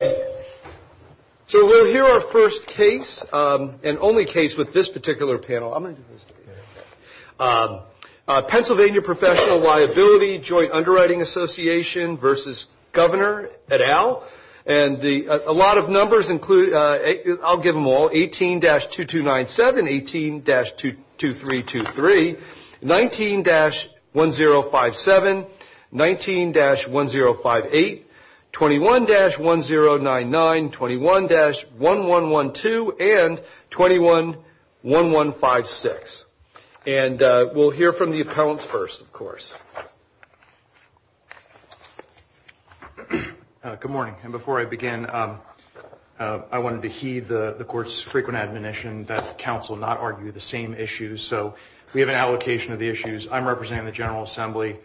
So we'll hear our first case and only case with this particular panel. Pennsylvania Professional Liability Joint Underwriting Association versus Governor et al. And a lot of numbers include, I'll give them all, 18-2297, 18-2323, 19-1057, 19-1058, 21-1099, 21-1112, and 21-1156. And we'll hear from the appellants first, of course. Good morning. And before I begin, I wanted to heed the Court's frequent admonition that the Council not argue the same issues. So we have an allocation of the issues. I'm representing the General Assembly.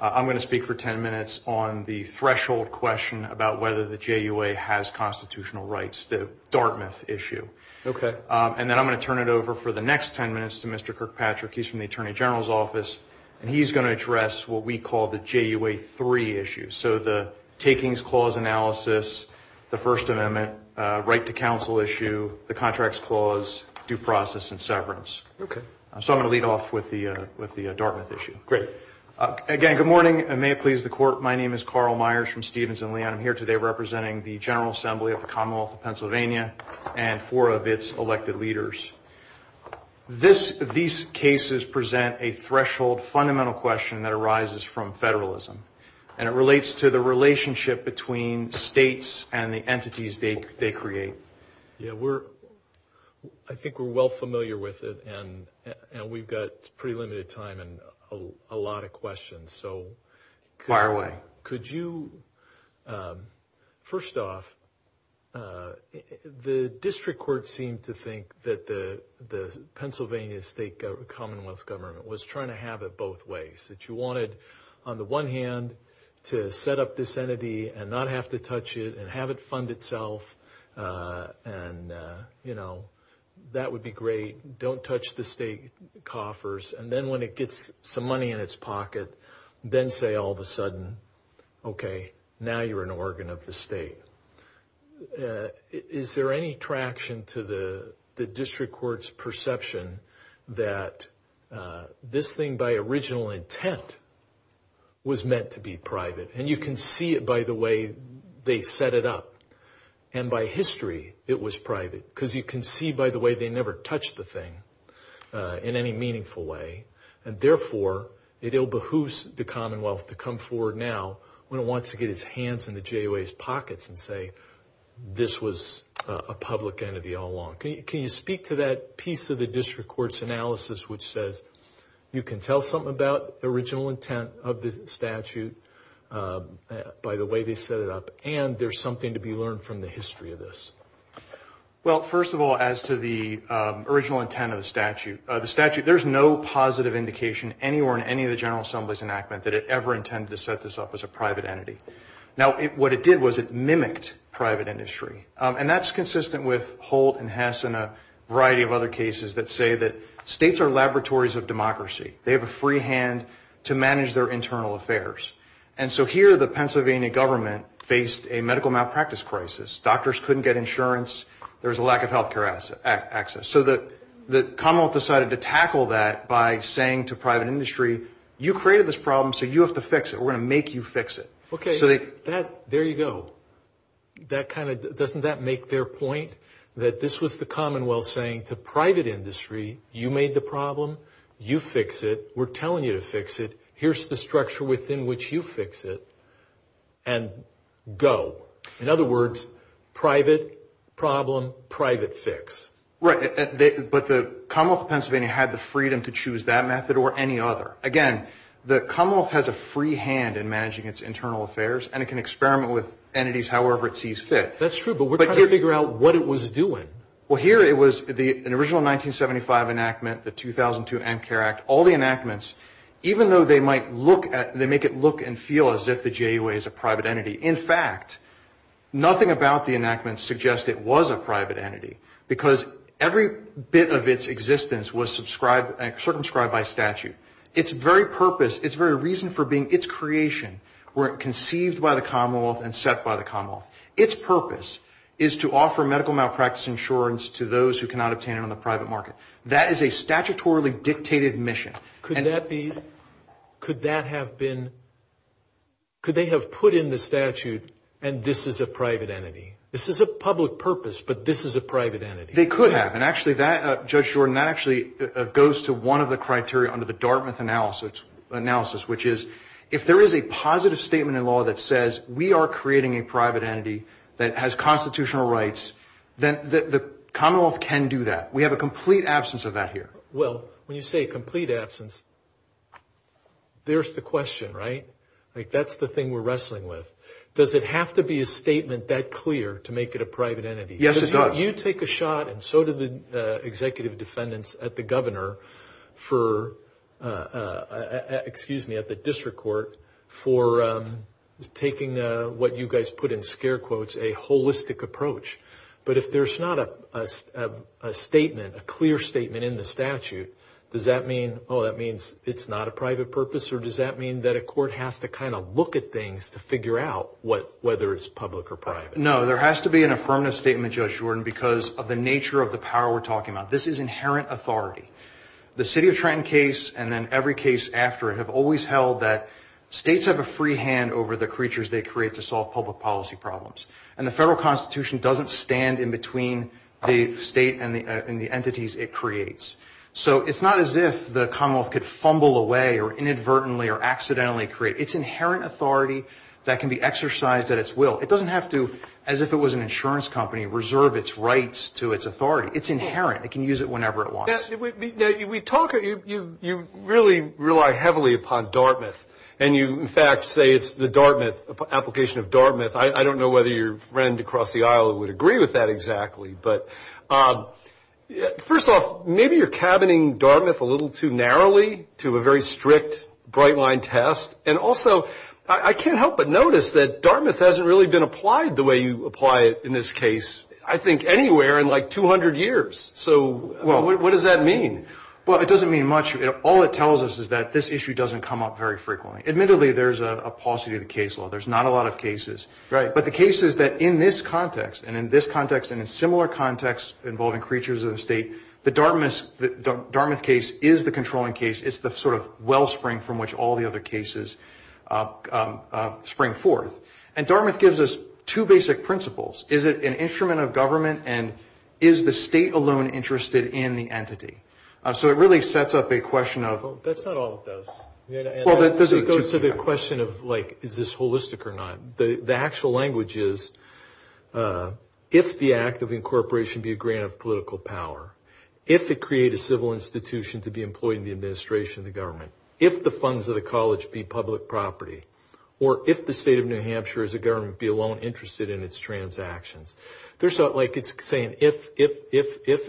I'm going to speak for 10 minutes on the threshold question about whether the JUA has constitutional rights, the Dartmouth issue. Okay. And then I'm going to turn it over for the next 10 minutes to Mr. Kirkpatrick. He's from the Attorney General's Office. And he's going to address what we call the JUA 3 issue. So the takings clause analysis, the First Amendment, right to counsel issue, the contracts clause, due process, and severance. Okay. So I'm going to lead off with the Dartmouth issue. Great. Again, good morning, and may it please the Court. My name is Carl Myers from Stevens & Leon. I'm here today representing the General Assembly of the Commonwealth of Pennsylvania and four of its elected leaders. These cases present a threshold fundamental question that arises from federalism, and it relates to the relationship between states and the entities they create. Yeah, I think we're well familiar with it, and we've got pretty limited time and a lot of questions. Fire away. Could you, first off, the district court seemed to think that the Pennsylvania State Commonwealth's government was trying to have it both ways, that you wanted, on the one hand, to set up this entity and not have to touch it and have it fund itself, and, you know, that would be great. Don't touch the state coffers. And then when it gets some money in its pocket, then say all of a sudden, okay, now you're an organ of the state. Is there any traction to the district court's perception that this thing, by original intent, was meant to be private? And you can see it by the way they set it up. And by history, it was private, because you can see by the way they never touched the thing in any meaningful way, and therefore it ill behooves the Commonwealth to come forward now when it wants to get its hands in the GOA's pockets and say this was a public entity all along. Can you speak to that piece of the district court's analysis which says you can tell something about the original intent of the statute by the way they set it up, and there's something to be learned from the history of this? Well, first of all, as to the original intent of the statute, there's no positive indication anywhere in any of the General Assembly's enactment that it ever intended to set this up as a private entity. Now, what it did was it mimicked private industry. And that's consistent with Holt and Hess and a variety of other cases that say that states are laboratories of democracy. They have a free hand to manage their internal affairs. And so here the Pennsylvania government faced a medical malpractice crisis. Doctors couldn't get insurance. There was a lack of health care access. So the Commonwealth decided to tackle that by saying to private industry, you created this problem, so you have to fix it. We're going to make you fix it. Okay. There you go. Doesn't that make their point, that this was the Commonwealth saying to private industry, you made the problem, you fix it, we're telling you to fix it, here's the structure within which you fix it, and go. In other words, private problem, private fix. Right. But the Commonwealth of Pennsylvania had the freedom to choose that method or any other. Again, the Commonwealth has a free hand in managing its internal affairs, and it can experiment with entities however it sees fit. That's true, but we're trying to figure out what it was doing. Well, here it was an original 1975 enactment, the 2002 NCARE Act, all the enactments, even though they make it look and feel as if the JEA is a private entity. In fact, nothing about the enactments suggests it was a private entity, because every bit of its existence was circumscribed by statute. Its very purpose, its very reason for being, its creation, were conceived by the Commonwealth and set by the Commonwealth. Its purpose is to offer medical malpractice insurance to those who cannot obtain it on the private market. That is a statutorily dictated mission. Could that be, could that have been, could they have put in the statute, and this is a private entity? This is a public purpose, but this is a private entity. They could have, and actually that, Judge Jordan, that actually goes to one of the criteria under the Dartmouth analysis, which is if there is a positive statement in law that says we are creating a private entity that has constitutional rights, then the Commonwealth can do that. We have a complete absence of that here. Well, when you say complete absence, there's the question, right? That's the thing we're wrestling with. Does it have to be a statement that clear to make it a private entity? Yes, it does. Well, you take a shot, and so do the executive defendants at the governor for, excuse me, at the district court, for taking what you guys put in scare quotes, a holistic approach. But if there's not a statement, a clear statement in the statute, does that mean, oh, that means it's not a private purpose? Or does that mean that a court has to kind of look at things to figure out whether it's public or private? No, there has to be an affirmative statement, Judge Jordan, because of the nature of the power we're talking about. This is inherent authority. The City of Trenton case and then every case after it have always held that states have a free hand over the creatures they create to solve public policy problems. And the federal constitution doesn't stand in between the state and the entities it creates. So it's not as if the Commonwealth could fumble away or inadvertently or accidentally create. It's inherent authority that can be exercised at its will. It doesn't have to, as if it was an insurance company, reserve its rights to its authority. It's inherent. It can use it whenever it wants. Now, you really rely heavily upon Dartmouth. And you, in fact, say it's the Dartmouth, application of Dartmouth. I don't know whether your friend across the aisle would agree with that exactly. But first off, maybe you're cabining Dartmouth a little too narrowly to a very strict bright-line test. And also, I can't help but notice that Dartmouth hasn't really been applied the way you apply it in this case, I think, anywhere in like 200 years. So what does that mean? Well, it doesn't mean much. All it tells us is that this issue doesn't come up very frequently. Admittedly, there's a paucity of the case law. There's not a lot of cases. Right. But the case is that in this context and in this context and in similar contexts involving creatures of the state, the Dartmouth case is the controlling case. It's the sort of wellspring from which all the other cases spring forth. And Dartmouth gives us two basic principles. Is it an instrument of government? And is the state alone interested in the entity? So it really sets up a question of – That's not all it does. It goes to the question of, like, is this holistic or not? The actual language is, if the act of incorporation be a grant of political power, if it create a civil institution to be employed in the administration of the government, if the funds of the college be public property, or if the state of New Hampshire as a government be alone interested in its transactions. There's not like it's saying if, if, if, if.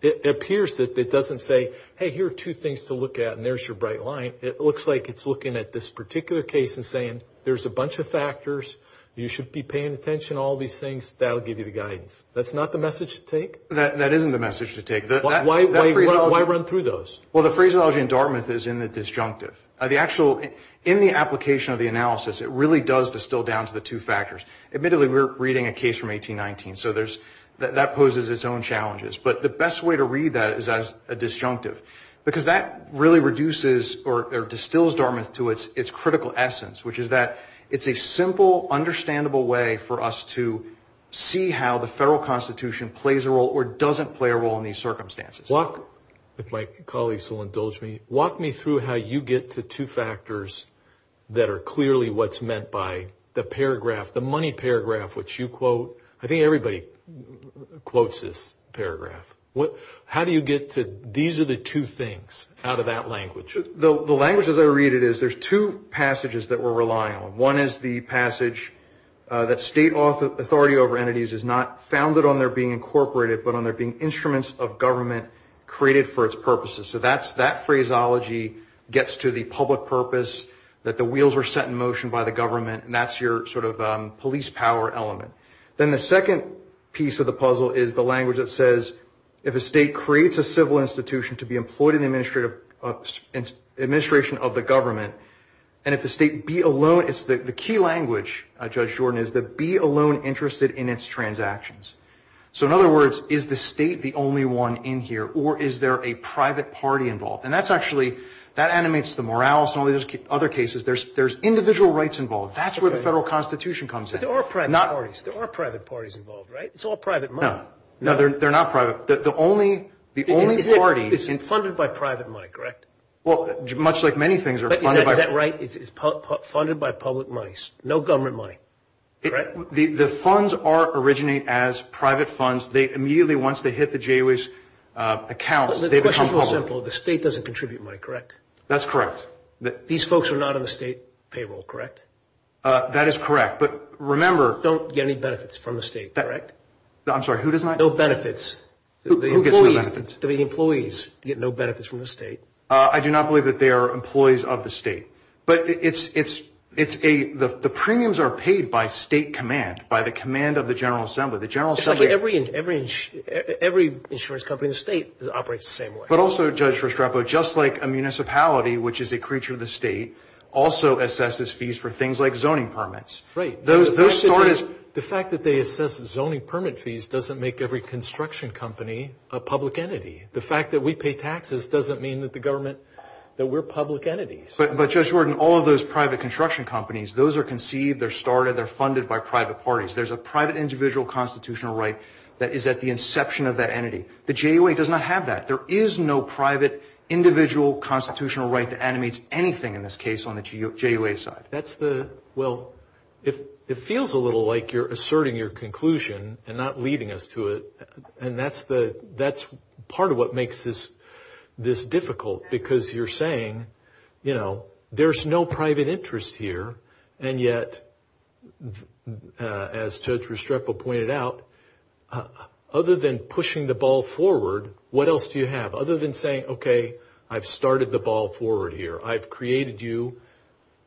It appears that it doesn't say, hey, here are two things to look at, and there's your bright line. It looks like it's looking at this particular case and saying there's a bunch of factors. You should be paying attention to all these things. That will give you the guidance. That's not the message to take? That isn't the message to take. Why run through those? Well, the phraseology in Dartmouth is in the disjunctive. The actual – in the application of the analysis, it really does distill down to the two factors. Admittedly, we're reading a case from 1819, so there's – that poses its own challenges. But the best way to read that is as a disjunctive, because that really reduces or distills Dartmouth to its critical essence, which is that it's a simple, understandable way for us to see how the federal constitution plays a role or doesn't play a role in these circumstances. Walk – if my colleagues will indulge me, walk me through how you get to two factors that are clearly what's meant by the paragraph, the money paragraph, which you quote. I think everybody quotes this paragraph. How do you get to these are the two things out of that language? The language, as I read it, is there's two passages that we're relying on. One is the passage that state authority over entities is not founded on their being incorporated but on their being instruments of government created for its purposes. So that's – that phraseology gets to the public purpose, that the wheels were set in motion by the government, and that's your sort of police power element. Then the second piece of the puzzle is the language that says, if a state creates a civil institution to be employed in the administration of the government, and if the state be alone – it's the key language, Judge Jordan, is that be alone interested in its transactions. So in other words, is the state the only one in here, or is there a private party involved? And that's actually – that animates the morales in all these other cases. There's individual rights involved. That's where the federal constitution comes in. But there are private parties. There are private parties involved, right? It's all private money. No. No, they're not private. The only – the only party – It's funded by private money, correct? Well, much like many things are funded by – Is that right? It's funded by public money, no government money, correct? The funds are – originate as private funds. They immediately, once they hit the J-Ways accounts, they become – The question's real simple. The state doesn't contribute money, correct? That's correct. These folks are not on the state payroll, correct? That is correct. But remember – Don't get any benefits from the state, correct? I'm sorry. Who does not – No benefits. Who gets no benefits? The employees get no benefits from the state. I do not believe that they are employees of the state. But it's a – the premiums are paid by state command, by the command of the General Assembly. The General Assembly – It's like every insurance company in the state operates the same way. But also, Judge Restrepo, just like a municipality, which is a creature of the state, also assesses fees for things like zoning permits. Right. The fact that they assess zoning permit fees doesn't make every construction company a public entity. The fact that we pay taxes doesn't mean that the government – that we're public entities. But, Judge Jordan, all of those private construction companies, those are conceived, they're started, they're funded by private parties. There's a private individual constitutional right that is at the inception of that entity. The J-Way does not have that. There is no private individual constitutional right that animates anything in this case on the J-Way side. That's the – well, it feels a little like you're asserting your conclusion and not leading us to it. And that's the – that's part of what makes this difficult. Because you're saying, you know, there's no private interest here. And yet, as Judge Restrepo pointed out, other than pushing the ball forward, what else do you have? Other than saying, okay, I've started the ball forward here. I've created you.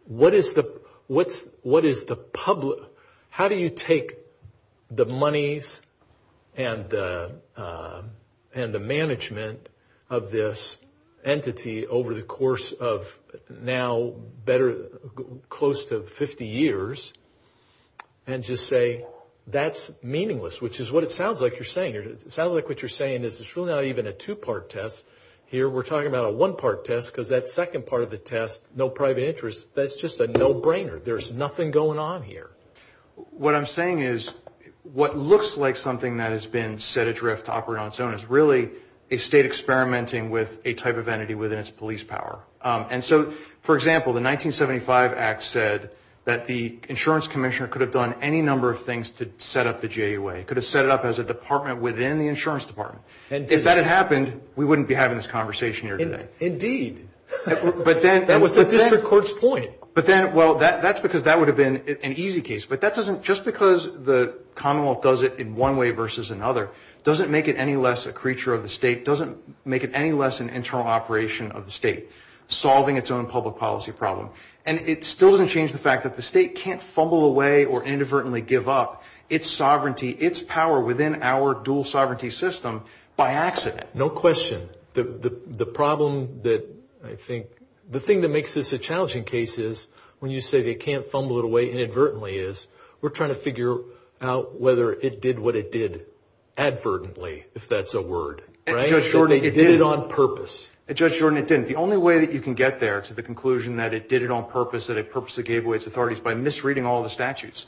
What is the – how do you take the monies and the management of this entity over the course of now better close to 50 years and just say that's meaningless, which is what it sounds like you're saying. It sounds like what you're saying is it's really not even a two-part test. Here we're talking about a one-part test because that second part of the test, no private interest, that's just a no-brainer. There's nothing going on here. What I'm saying is what looks like something that has been set adrift to operate on its own is really a state experimenting with a type of entity within its police power. And so, for example, the 1975 Act said that the insurance commissioner could have done any number of things to set up the J-Way. It could have set it up as a department within the insurance department. If that had happened, we wouldn't be having this conversation here today. Indeed. But then – That was the district court's point. But then – well, that's because that would have been an easy case. But that doesn't – just because the Commonwealth does it in one way versus another doesn't make it any less a creature of the state, doesn't make it any less an internal operation of the state solving its own public policy problem. And it still doesn't change the fact that the state can't fumble away or inadvertently give up its sovereignty, its power within our dual sovereignty system by accident. No question. The problem that I think – the thing that makes this a challenging case is when you say they can't fumble it away inadvertently is we're trying to figure out whether it did what it did advertently, if that's a word. Right? Judge Jordan, it didn't. They did it on purpose. Judge Jordan, it didn't. The only way that you can get there to the conclusion that it did it on purpose, that it purposely gave away its authorities, is by misreading all the statutes.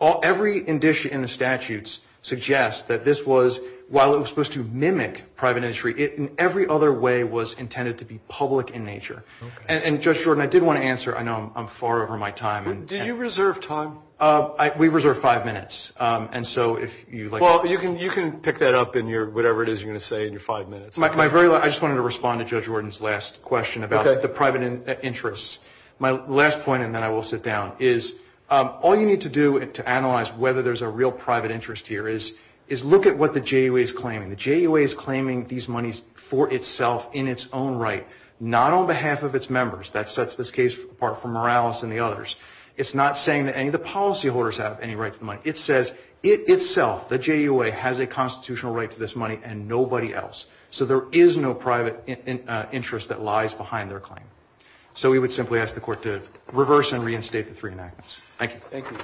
Every edition in the statutes suggests that this was, while it was supposed to mimic private industry, it in every other way was intended to be public in nature. Okay. And, Judge Jordan, I did want to answer – I know I'm far over my time. Did you reserve time? We reserved five minutes. And so if you'd like to – Well, you can pick that up in your – whatever it is you're going to say in your five minutes. I just wanted to respond to Judge Jordan's last question about the private interests. Okay. My last point, and then I will sit down, is all you need to do to analyze whether there's a real private interest here is look at what the JUA is claiming. The JUA is claiming these monies for itself in its own right, not on behalf of its members. That sets this case apart from Morales and the others. It's not saying that any of the policyholders have any right to the money. It says it itself, the JUA, has a constitutional right to this money and nobody else. So there is no private interest that lies behind their claim. So we would simply ask the Court to reverse and reinstate the three enactments. Thank you. Thank you.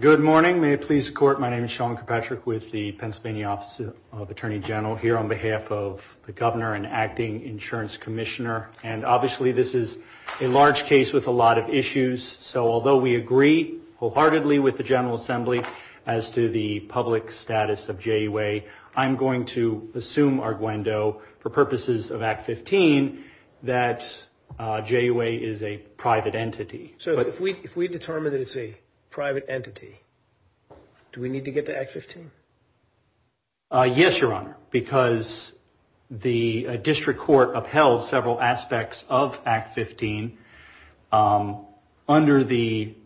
Good morning. May it please the Court, my name is Sean Kirkpatrick with the Pennsylvania Office of Attorney General here on behalf of the Governor and Acting Insurance Commissioner. And obviously this is a large case with a lot of issues. So although we agree wholeheartedly with the General Assembly as to the public status of JUA, I'm going to assume, Arguendo, for purposes of Act 15, that JUA is a private entity. So if we determine that it's a private entity, do we need to get to Act 15? Yes, Your Honor. Because the District Court upheld several aspects of Act 15 under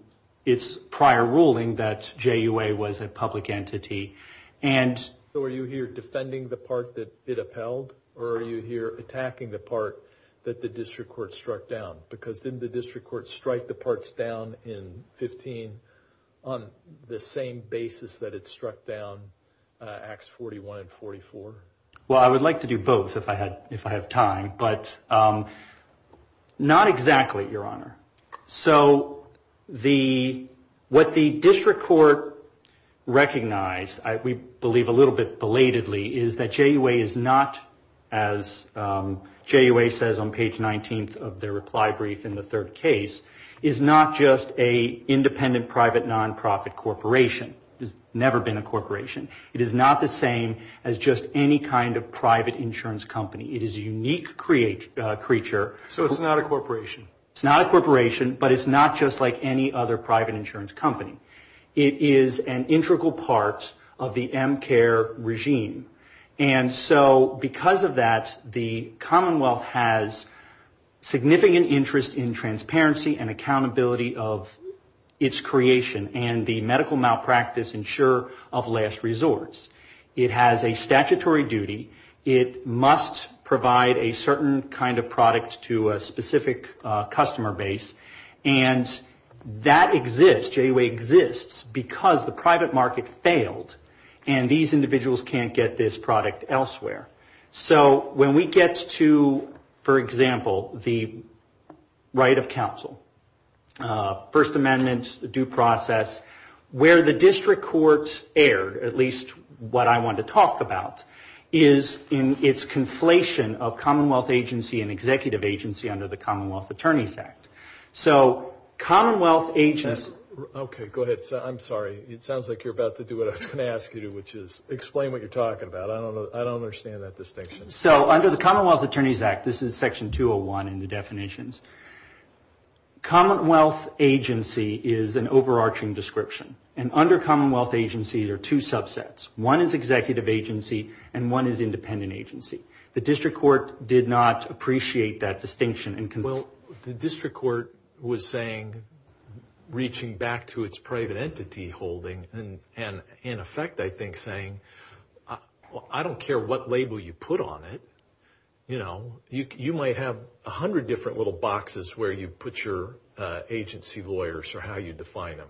its prior ruling that JUA was a public entity. So are you here defending the part that it upheld? Or are you here attacking the part that the District Court struck down? Because didn't the District Court strike the parts down in 15 on the same basis that it struck down Acts 41 and 44? Well, I would like to do both if I have time, but not exactly, Your Honor. So what the District Court recognized, we believe a little bit belatedly, is that JUA is not, as JUA says on page 19 of their reply brief in the third case, is not just an independent private nonprofit corporation. It has never been a corporation. It is not the same as just any kind of private insurance company. It is a unique creature. So it's not a corporation? It's not a corporation, but it's not just like any other private insurance company. It is an integral part of the MCARE regime. And so because of that, the Commonwealth has significant interest in transparency and accountability of its creation and the medical malpractice insure of last resorts. It has a statutory duty. It must provide a certain kind of product to a specific customer base. And that exists, JUA exists, because the private market failed and these individuals can't get this product elsewhere. So when we get to, for example, the right of counsel, First Amendment, due process, where the District Court erred, at least what I want to talk about, is in its conflation of Commonwealth agency and executive agency under the Commonwealth Attorneys Act. So Commonwealth agency... Okay, go ahead. I'm sorry. It sounds like you're about to do what I was going to ask you to do, which is explain what you're talking about. I don't understand that distinction. So under the Commonwealth Attorneys Act, this is Section 201 in the definitions, Commonwealth agency is an overarching description. And under Commonwealth agency, there are two subsets. One is executive agency and one is independent agency. The District Court did not appreciate that distinction. Well, the District Court was saying, reaching back to its private entity holding, and in effect I think saying, I don't care what label you put on it, you know, you might have 100 different little boxes where you put your agency lawyers or how you define them.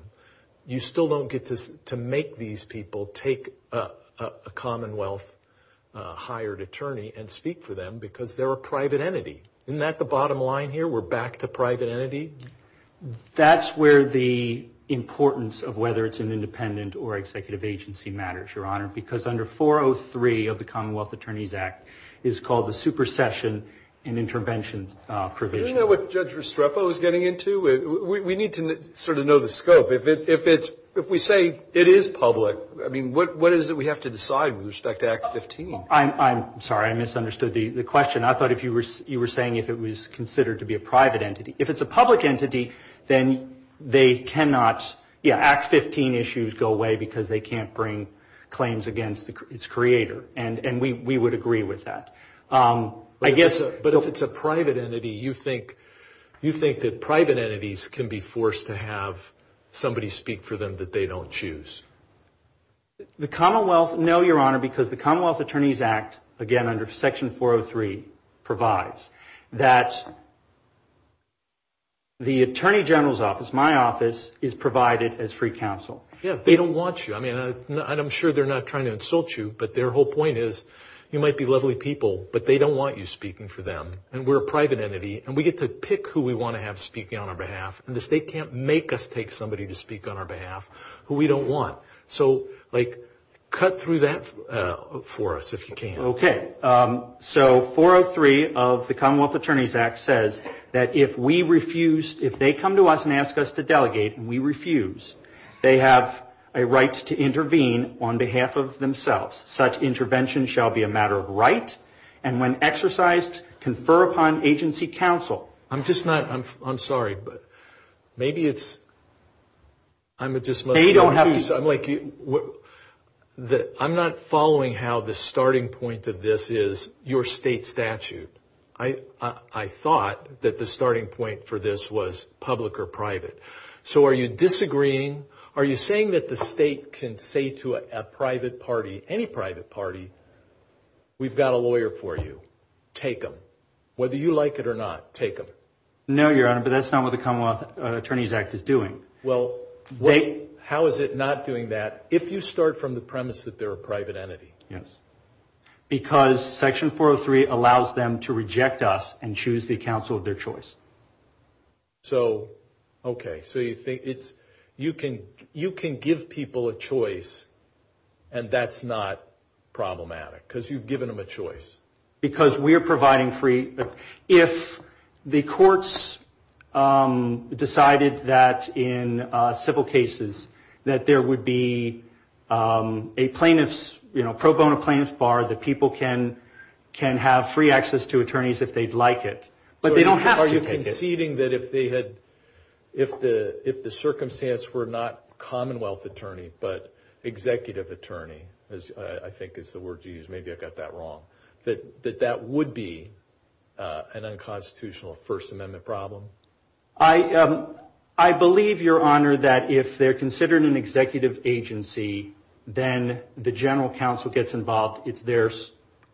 You still don't get to make these people take a Commonwealth hired attorney and speak for them because they're a private entity. Isn't that the bottom line here? We're back to private entity? That's where the importance of whether it's an independent or executive agency matters, Your Honor, because under 403 of the Commonwealth Attorneys Act is called the supersession and intervention provision. Do you know what Judge Restrepo is getting into? We need to sort of know the scope. If we say it is public, I mean, what is it we have to decide with respect to Act 15? I'm sorry. I misunderstood the question. I thought you were saying if it was considered to be a private entity. If it's a public entity, then they cannot, yeah, Act 15 issues go away because they can't bring claims against its creator, and we would agree with that. But if it's a private entity, you think that private entities can be forced to have somebody speak for them that they don't choose? The Commonwealth, no, Your Honor, because the Commonwealth Attorneys Act, again, under Section 403, provides that the Attorney General's office, my office, is provided as free counsel. Yeah, they don't want you. I mean, I'm sure they're not trying to insult you, but their whole point is you might be lovely people, but they don't want you speaking for them, and we're a private entity, and we get to pick who we want to have speaking on our behalf, and the state can't make us take somebody to speak on our behalf who we don't want. So, like, cut through that for us if you can. Okay. So 403 of the Commonwealth Attorneys Act says that if we refuse, if they come to us and ask us to delegate and we refuse, they have a right to intervene on behalf of themselves. Such intervention shall be a matter of right, and when exercised, confer upon agency counsel. I'm just not – I'm sorry, but maybe it's – I'm just – They don't have to. I'm not following how the starting point of this is your state statute. I thought that the starting point for this was public or private. So are you disagreeing? Are you saying that the state can say to a private party, any private party, we've got a lawyer for you, take them. Whether you like it or not, take them. No, Your Honor, but that's not what the Commonwealth Attorneys Act is doing. Well, how is it not doing that if you start from the premise that they're a private entity? Yes, because Section 403 allows them to reject us and choose the counsel of their choice. So, okay, so you think it's – you can give people a choice and that's not problematic because you've given them a choice. Because we're providing free – if the courts decided that in civil cases that there would be a plaintiff's, you know, pro bono plaintiff's bar, that people can have free access to attorneys if they'd like it. But they don't have to take it. So are you conceding that if they had – if the circumstance were not Commonwealth attorney but executive attorney, I think is the word you used, maybe I got that wrong, that that would be an unconstitutional First Amendment problem? I believe, Your Honor, that if they're considered an executive agency, then the general counsel gets involved. It's their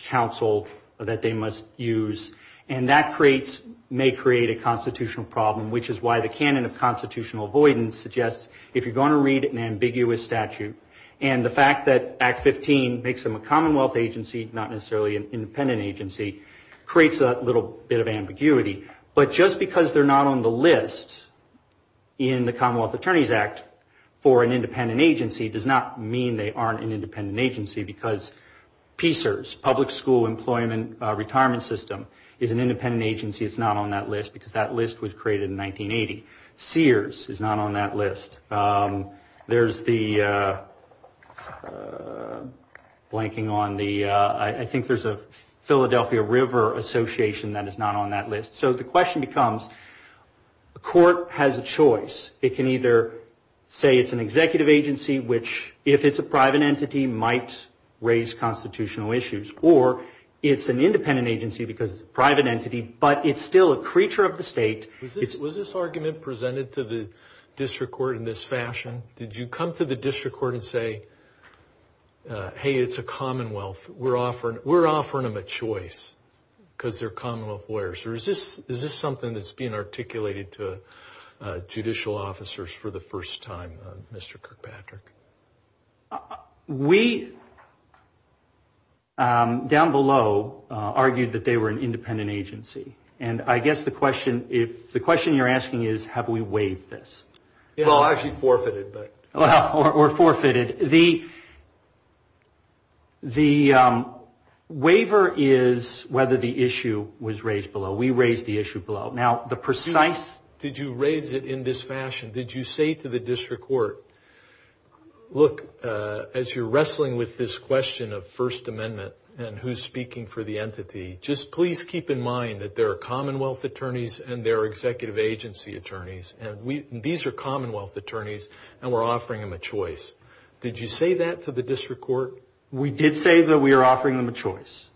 counsel that they must use. And that creates – may create a constitutional problem, which is why the canon of constitutional avoidance suggests if you're going to read an ambiguous statute, and the fact that Act 15 makes them a Commonwealth agency, not necessarily an independent agency, creates a little bit of ambiguity. But just because they're not on the list in the Commonwealth Attorneys Act for an independent agency does not mean they aren't an independent agency because PSERS, Public School Employment Retirement System, is an independent agency. It's not on that list because that list was created in 1980. Sears is not on that list. There's the – blanking on the – I think there's a Philadelphia River Association that is not on that list. So the question becomes, a court has a choice. It can either say it's an executive agency, which if it's a private entity might raise constitutional issues, or it's an independent agency because it's a private entity, but it's still a creature of the state. Was this argument presented to the district court in this fashion? Did you come to the district court and say, hey, it's a Commonwealth. We're offering them a choice because they're Commonwealth lawyers. Or is this something that's being articulated to judicial officers for the first time, Mr. Kirkpatrick? We, down below, argued that they were an independent agency. And I guess the question you're asking is, have we waived this? Well, actually forfeited. Or forfeited. The waiver is whether the issue was raised below. We raised the issue below. Did you raise it in this fashion? Did you say to the district court, look, as you're wrestling with this question of First Amendment and who's speaking for the entity, just please keep in mind that there are Commonwealth attorneys and there are executive agency attorneys. And these are Commonwealth attorneys, and we're offering them a choice. Did you say that to the district court? We did say that we were offering them a choice.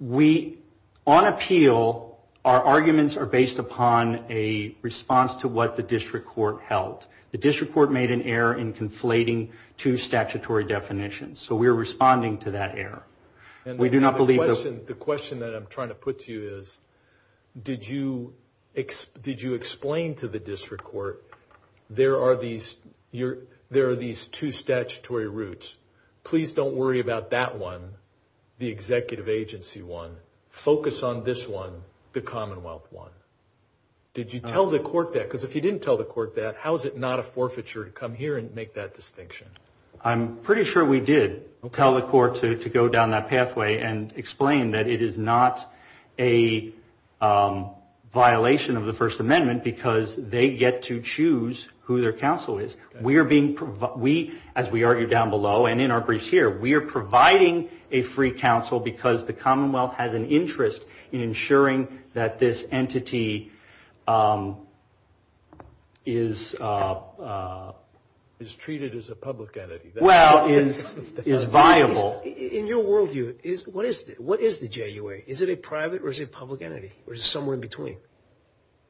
We, on appeal, our arguments are based upon a response to what the district court held. The district court made an error in conflating two statutory definitions. So we're responding to that error. The question that I'm trying to put to you is, did you explain to the district court there are these two statutory roots? Please don't worry about that one, the executive agency one. Focus on this one, the Commonwealth one. Did you tell the court that? Because if you didn't tell the court that, how is it not a forfeiture to come here and make that distinction? I'm pretty sure we did tell the court to go down that pathway and explain that it is not a violation of the First Amendment because they get to choose who their counsel is. We, as we argued down below, and in our briefs here, we are providing a free counsel because the Commonwealth has an interest in ensuring that this entity is treated as a public entity. Well, is viable. In your world view, what is the JUA? Is it a private or is it a public entity, or is it somewhere in between?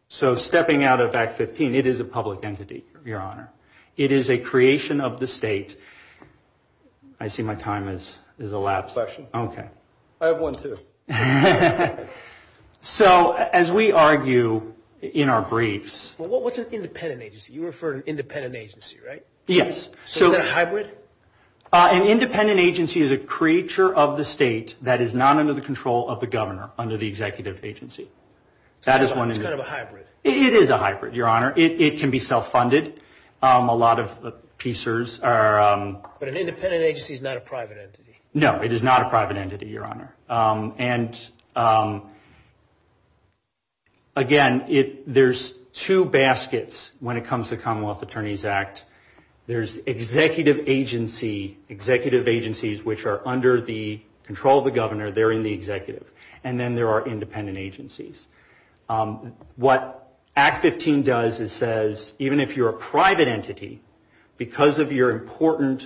So stepping out of Act 15, it is a public entity, Your Honor. It is a creation of the state. I see my time is elapsed. I have one, too. So as we argue in our briefs. Well, what's an independent agency? You referred to an independent agency, right? Yes. So is that a hybrid? An independent agency is a creature of the state that is not under the control of the governor, under the executive agency. It's kind of a hybrid. It is a hybrid, Your Honor. It can be self-funded. A lot of appeasers are... But an independent agency is not a private entity. No, it is not a private entity, Your Honor. And, again, there's two baskets when it comes to the Commonwealth Attorneys Act. There's executive agencies, which are under the control of the governor. They're in the executive. And then there are independent agencies. What Act 15 does is says, even if you're a private entity, because of your important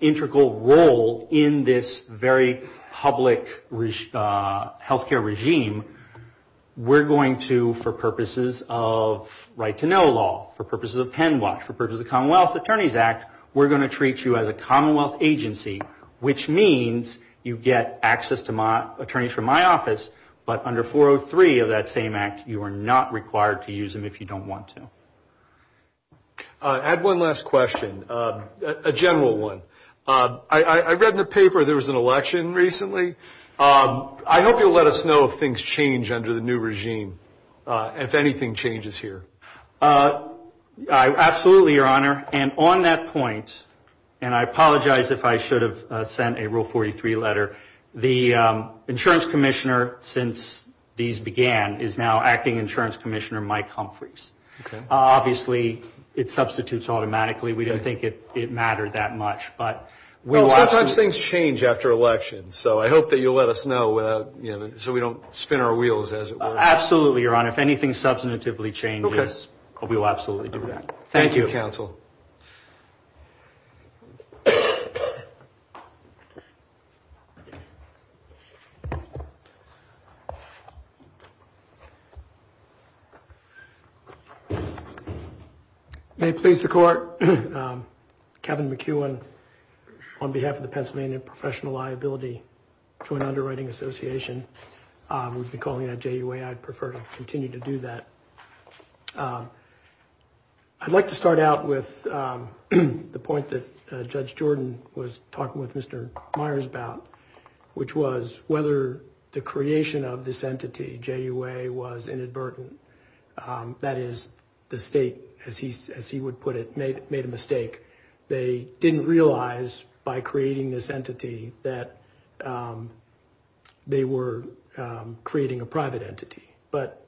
integral role in this very public health care regime, we're going to, for purposes of right-to-know law, for purposes of Penn Watch, for purposes of the Commonwealth Attorneys Act, we're going to treat you as a Commonwealth agency, which means you get access to attorneys from my office, but under 403 of that same Act, you are not required to use them if you don't want to. I have one last question, a general one. I read in a paper there was an election recently. I hope you'll let us know if things change under the new regime, if anything changes here. Absolutely, Your Honor. And on that point, and I apologize if I should have sent a Rule 43 letter, the insurance commissioner since these began is now acting insurance commissioner Mike Humphreys. Obviously, it substitutes automatically. We don't think it mattered that much. Well, sometimes things change after elections, so I hope that you'll let us know so we don't spin our wheels as it were. Absolutely, Your Honor. If anything substantively changes, we will absolutely do that. Thank you. Thank you, counsel. May it please the Court. Kevin McEwen, on behalf of the Pennsylvania Professional Liability Joint Underwriting Association. We've been calling that JUA. I'd prefer to continue to do that. I'd like to start out with the point that Judge Jordan was talking with Mr. Myers about, which was whether the creation of this entity, JUA, was inadvertent. That is, the state, as he would put it, made a mistake. They didn't realize by creating this entity that they were creating a private entity. But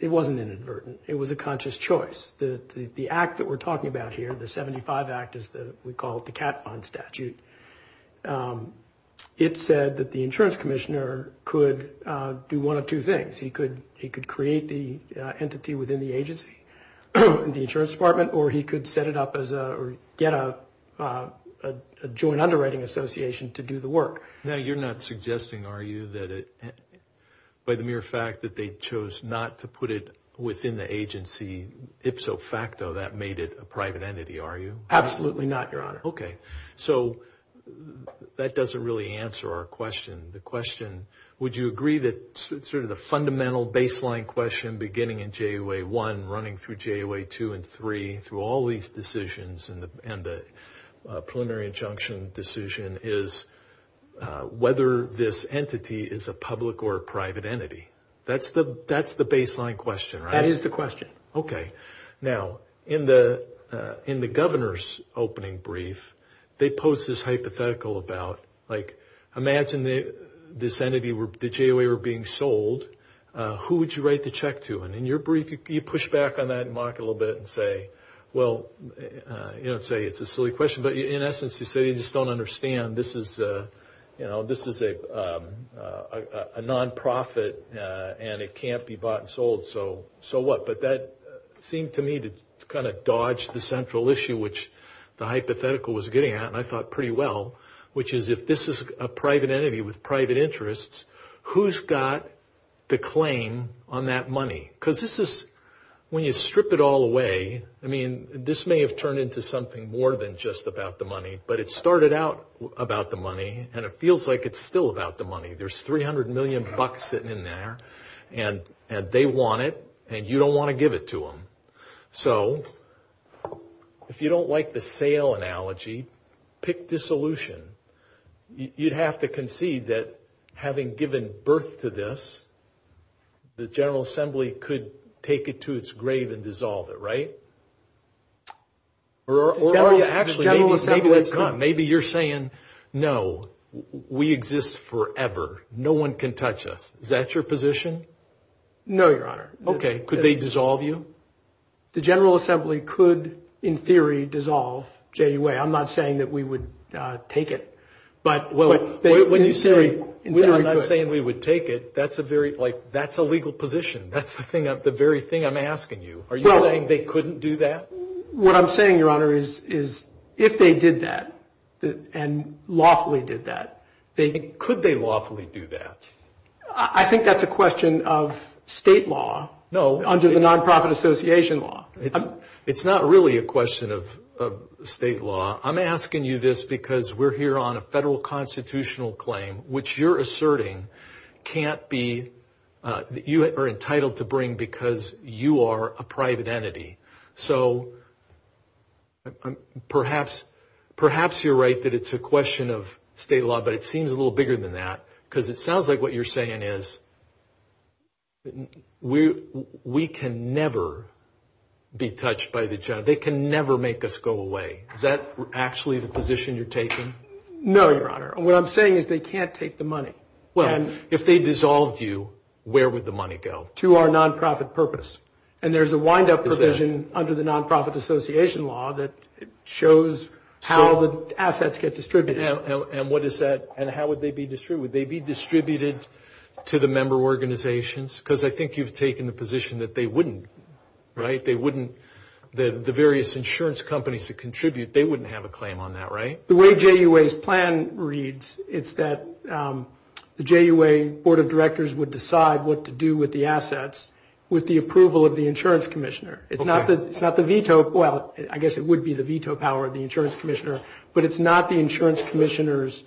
it wasn't inadvertent. It was a conscious choice. The act that we're talking about here, the 75 Act, as we call it, the Cat Fund Statute, it said that the insurance commissioner could do one of two things. He could create the entity within the agency, the insurance department, or he could set it up as a, get a joint underwriting association to do the work. Now, you're not suggesting, are you, that by the mere fact that they chose not to put it within the agency, ipso facto, that made it a private entity, are you? Absolutely not, Your Honor. Okay. So that doesn't really answer our question. The question, would you agree that sort of the fundamental baseline question beginning in JUA 1, running through JUA 2 and 3, through all these decisions, and the preliminary injunction decision is whether this entity is a public or a private entity. That's the baseline question, right? That is the question. Okay. Now, in the governor's opening brief, they posed this hypothetical about, like, imagine this entity, the JUA, were being sold. Who would you write the check to? And in your brief, you push back on that and mock it a little bit and say, well, you know, say it's a silly question, but in essence, you say you just don't understand. This is, you know, this is a nonprofit, and it can't be bought and sold, so what? But that seemed to me to kind of dodge the central issue, which the hypothetical was getting at, and I thought pretty well, which is if this is a private entity with private interests, who's got the claim on that money? Because this is, when you strip it all away, I mean, this may have turned into something more than just about the money, but it started out about the money, and it feels like it's still about the money. There's $300 million sitting in there, and they want it, and you don't want to give it to them. So if you don't like the sale analogy, pick dissolution. You'd have to concede that having given birth to this, the General Assembly could take it to its grave and dissolve it, right? Actually, maybe it's not. Maybe you're saying, no, we exist forever. No one can touch us. Is that your position? No, Your Honor. Okay. Could they dissolve you? The General Assembly could, in theory, dissolve JUA. I'm not saying that we would take it, but in theory, we would. I'm not saying we would take it. That's a legal position. That's the very thing I'm asking you. Are you saying they couldn't do that? What I'm saying, Your Honor, is if they did that and lawfully did that, could they lawfully do that? I think that's a question of state law under the nonprofit association law. It's not really a question of state law. I'm asking you this because we're here on a federal constitutional claim, which you're asserting can't be entitled to bring because you are a private entity. So perhaps you're right that it's a question of state law, but it seems a little bigger than that because it sounds like what you're saying is we can never be touched by the JUA. They can never make us go away. Is that actually the position you're taking? No, Your Honor. What I'm saying is they can't take the money. Well, if they dissolved you, where would the money go? To our nonprofit purpose. And there's a wind-up provision under the nonprofit association law that shows how the assets get distributed. And what is that? And how would they be distributed? Would they be distributed to the member organizations? Because I think you've taken the position that they wouldn't, right? They wouldn't, the various insurance companies that contribute, they wouldn't have a claim on that, right? The way JUA's plan reads, it's that the JUA board of directors would decide what to do with the assets with the approval of the insurance commissioner. It's not the veto, well, I guess it would be the veto power of the insurance commissioner, but it's not the insurance commissioner's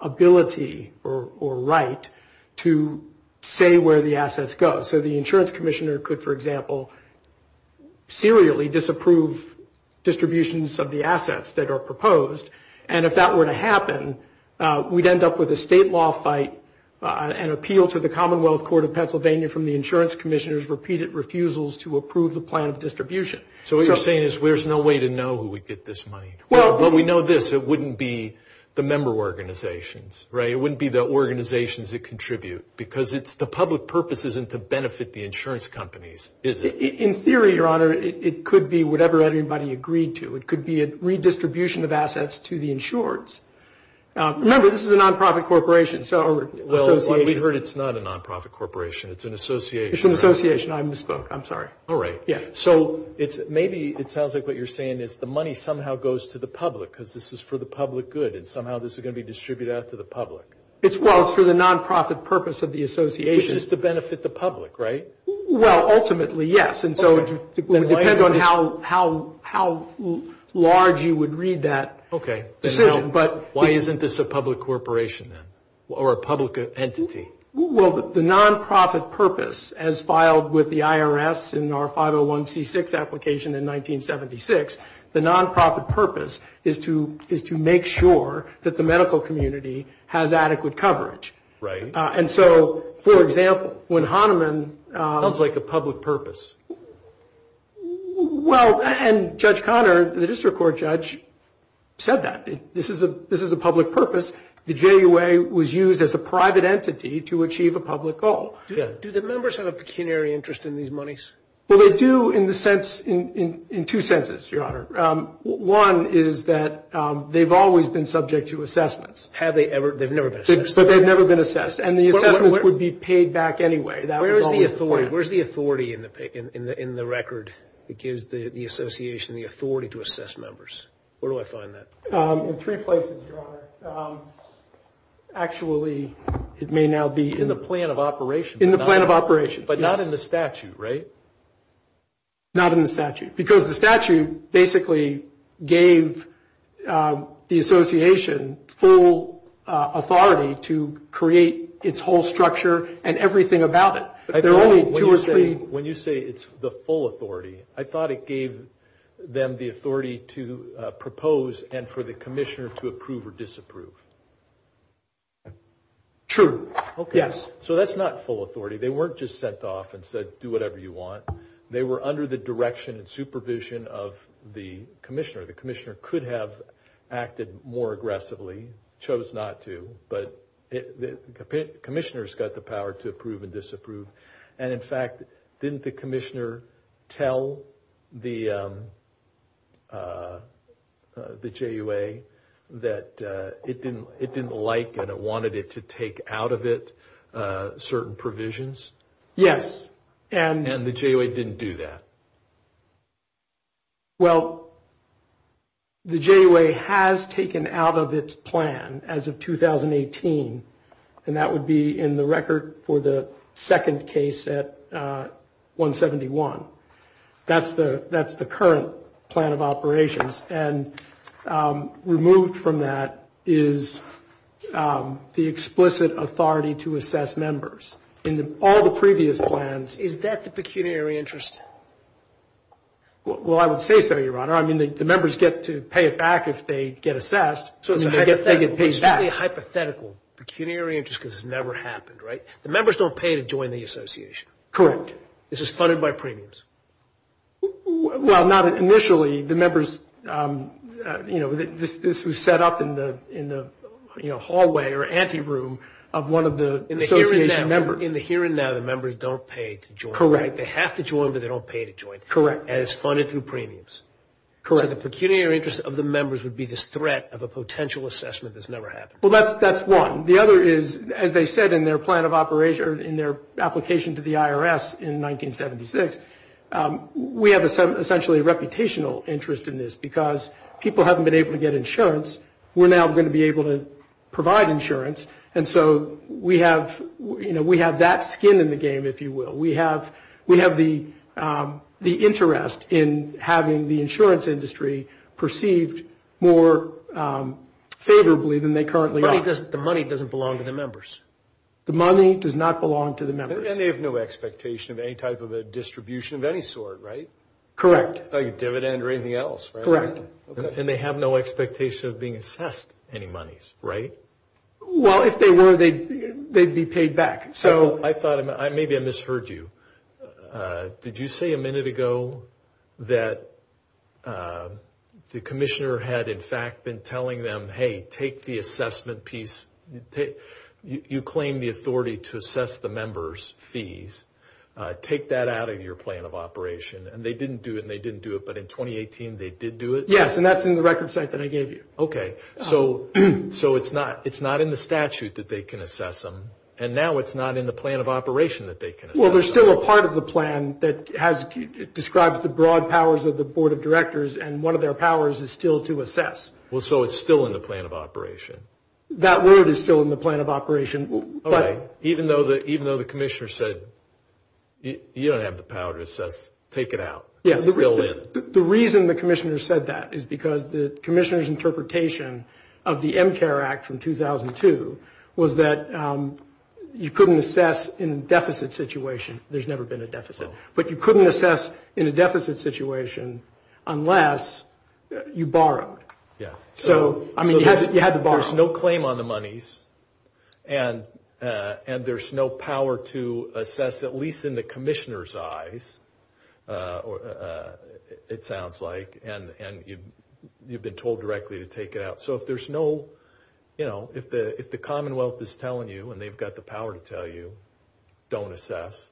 ability or right to say where the assets go. So the insurance commissioner could, for example, serially disapprove distributions of the assets that are proposed. And if that were to happen, we'd end up with a state law fight, an appeal to the Commonwealth Court of Pennsylvania from the insurance commissioner's repeated refusals to approve the plan of distribution. So what you're saying is there's no way to know who would get this money? Well, we know this, it wouldn't be the member organizations, right? It wouldn't be the organizations that contribute because the public purpose isn't to benefit the insurance companies, is it? In theory, Your Honor, it could be whatever everybody agreed to. It could be a redistribution of assets to the insureds. Remember, this is a non-profit corporation. Well, we heard it's not a non-profit corporation. It's an association. It's an association. I misspoke. I'm sorry. All right. Yeah. So maybe it sounds like what you're saying is the money somehow goes to the public because this is for the public good and somehow this is going to be distributed out to the public. Well, it's for the non-profit purpose of the association. Which is to benefit the public, right? Well, ultimately, yes. And so it would depend on how large you would read that decision. Okay. Why isn't this a public corporation then or a public entity? Well, the non-profit purpose, as filed with the IRS in our 501C6 application in 1976, the non-profit purpose is to make sure that the medical community has adequate coverage. Right. And so, for example, when Hahnemann ---- Sounds like a public purpose. Well, and Judge Conner, the district court judge, said that. This is a public purpose. The JUA was used as a private entity to achieve a public goal. Yeah. Do the members have a pecuniary interest in these monies? Well, they do in two senses, Your Honor. One is that they've always been subject to assessments. Have they ever? They've never been assessed. But they've never been assessed. And the assessments would be paid back anyway. That was always the plan. Where's the authority in the record that gives the association the authority to assess members? Where do I find that? In three places, Your Honor. Actually, it may now be in the plan of operations. In the plan of operations, yes. But not in the statute, right? Not in the statute. Because the statute basically gave the association full authority to create its whole structure and everything about it. There are only two or three. When you say it's the full authority, I thought it gave them the authority to propose and for the commissioner to approve or disapprove. True. Okay. So that's not full authority. They weren't just sent off and said, do whatever you want. They were under the direction and supervision of the commissioner. The commissioner could have acted more aggressively, chose not to. But the commissioner's got the power to approve and disapprove. And, in fact, didn't the commissioner tell the JUA that it didn't like and it wanted it to take out of it certain provisions? Yes. And the JUA didn't do that? Well, the JUA has taken out of its plan as of 2018. And that would be in the record for the second case at 171. That's the current plan of operations. And removed from that is the explicit authority to assess members. In all the previous plans. Is that the pecuniary interest? Well, I would say so, Your Honor. I mean, the members get to pay it back if they get assessed. So it's a hypothetical pecuniary interest because it's never happened, right? The members don't pay to join the association. Correct. This is funded by premiums. Well, not initially. The members, you know, this was set up in the hallway or ante room of one of the association members. In the here and now, the members don't pay to join. Correct. They have to join, but they don't pay to join. Correct. And it's funded through premiums. Correct. Your Honor, the pecuniary interest of the members would be this threat of a potential assessment that's never happened. Well, that's one. The other is, as they said in their plan of operation or in their application to the IRS in 1976, we have essentially a reputational interest in this because people haven't been able to get insurance. We're now going to be able to provide insurance. And so we have, you know, we have that skin in the game, if you will. We have the interest in having the insurance industry perceived more favorably than they currently are. The money doesn't belong to the members. The money does not belong to the members. And they have no expectation of any type of a distribution of any sort, right? Correct. Like a dividend or anything else, right? Correct. And they have no expectation of being assessed any monies, right? Well, if they were, they'd be paid back. So I thought maybe I misheard you. Did you say a minute ago that the commissioner had, in fact, been telling them, hey, take the assessment piece. You claim the authority to assess the members' fees. Take that out of your plan of operation. And they didn't do it, and they didn't do it. But in 2018, they did do it? Yes, and that's in the record set that I gave you. Okay. So it's not in the statute that they can assess them. And now it's not in the plan of operation that they can assess them. Well, there's still a part of the plan that describes the broad powers of the Board of Directors, and one of their powers is still to assess. Well, so it's still in the plan of operation. That word is still in the plan of operation. All right. Even though the commissioner said, you don't have the power to assess, take it out. It's still in. The reason the commissioner said that is because the commissioner's interpretation of the MCARE Act from 2002 was that you couldn't assess in a deficit situation. There's never been a deficit. But you couldn't assess in a deficit situation unless you borrowed. Yeah. So, I mean, you had to borrow. There's no claim on the monies, and there's no power to assess, at least in the commissioner's eyes, it sounds like, and you've been told directly to take it out. So if there's no, you know, if the Commonwealth is telling you, and they've got the power to tell you, don't assess,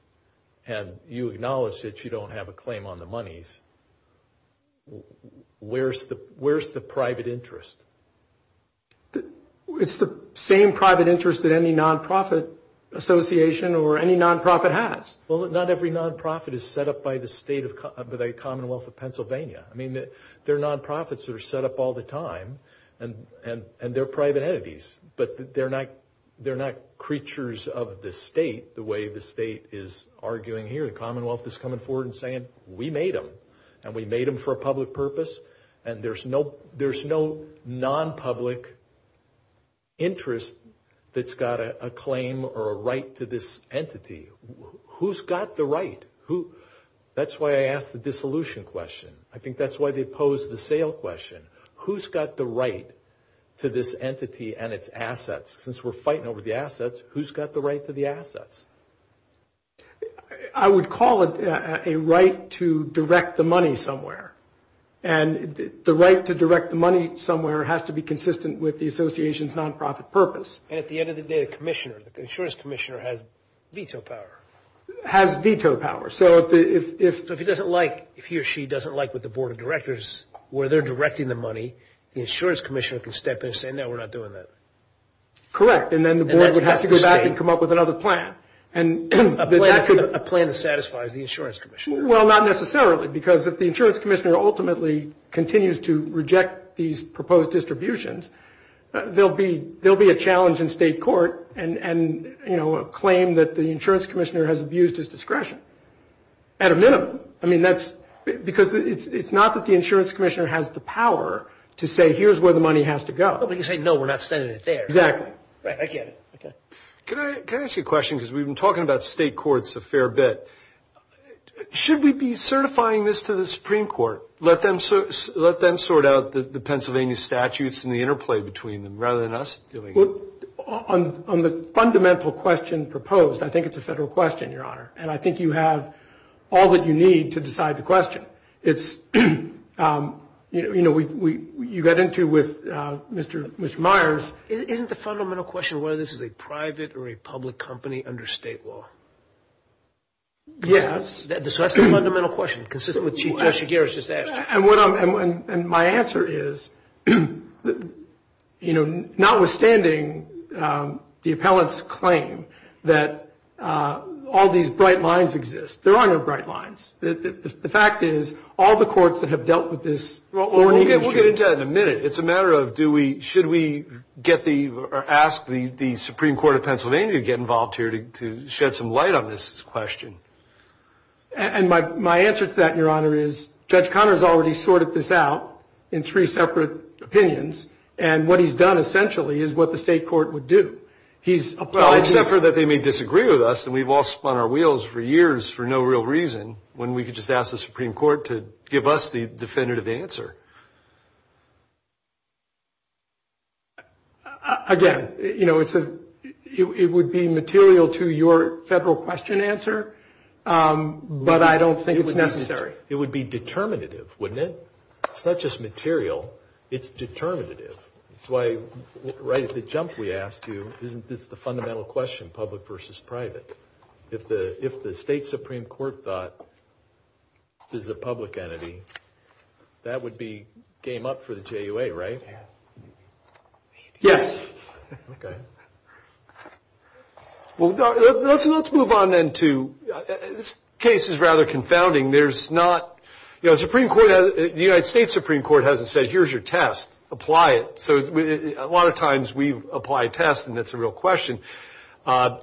and you acknowledge that you don't have a claim on the monies, where's the private interest? It's the same private interest that any nonprofit association or any nonprofit has. Well, not every nonprofit is set up by the Commonwealth of Pennsylvania. I mean, there are nonprofits that are set up all the time, and they're private entities, but they're not creatures of the state the way the state is arguing here. The Commonwealth is coming forward and saying, we made them, and we made them for a public purpose, and there's no nonpublic interest that's got a claim or a right to this entity. Who's got the right? That's why I asked the dissolution question. I think that's why they posed the sale question. Who's got the right to this entity and its assets? Since we're fighting over the assets, who's got the right to the assets? I would call it a right to direct the money somewhere, and the right to direct the money somewhere has to be consistent with the association's nonprofit purpose. And at the end of the day, the commissioner, the insurance commissioner, has veto power. Has veto power. So if he doesn't like, if he or she doesn't like what the board of directors, where they're directing the money, the insurance commissioner can step in and say, no, we're not doing that. Correct, and then the board would have to go back and come up with another plan. A plan that satisfies the insurance commissioner. Well, not necessarily, because if the insurance commissioner ultimately continues to reject these proposed distributions, there'll be a challenge in state court and, you know, a claim that the insurance commissioner has abused his discretion at a minimum. I mean, that's because it's not that the insurance commissioner has the power to say, here's where the money has to go. No, but you say, no, we're not sending it there. Exactly. Right, I get it. Okay. Can I ask you a question, because we've been talking about state courts a fair bit. Should we be certifying this to the Supreme Court? Let them sort out the Pennsylvania statutes and the interplay between them, rather than us doing it. Well, on the fundamental question proposed, I think it's a federal question, Your Honor, and I think you have all that you need to decide the question. It's, you know, you got into with Mr. Myers. Isn't the fundamental question whether this is a private or a public company under state law? Yes. So that's the fundamental question, consistent with Chief Judge Shigera's question. And my answer is, you know, notwithstanding the appellant's claim that all these bright lines exist. There are no bright lines. The fact is, all the courts that have dealt with this. We'll get into that in a minute. It's a matter of do we, should we get the, or ask the Supreme Court of Pennsylvania to get involved here to shed some light on this question? And my answer to that, Your Honor, is Judge Conner's already sorted this out in three separate opinions, and what he's done essentially is what the state court would do. He's apologized. Well, except for that they may disagree with us, and we've all spun our wheels for years for no real reason, when we could just ask the Supreme Court to give us the definitive answer. Again, you know, it would be material to your federal question answer, but I don't think it's necessary. It would be determinative, wouldn't it? It's not just material. It's determinative. That's why right at the jump we asked you, isn't this the fundamental question, public versus private? If the state Supreme Court thought this is a public entity, that would be game up for the JUA, right? Yes. Okay. Well, let's move on then to, this case is rather confounding. There's not, you know, the Supreme Court, the United States Supreme Court hasn't said here's your test. Apply it. So a lot of times we apply a test and it's a real question.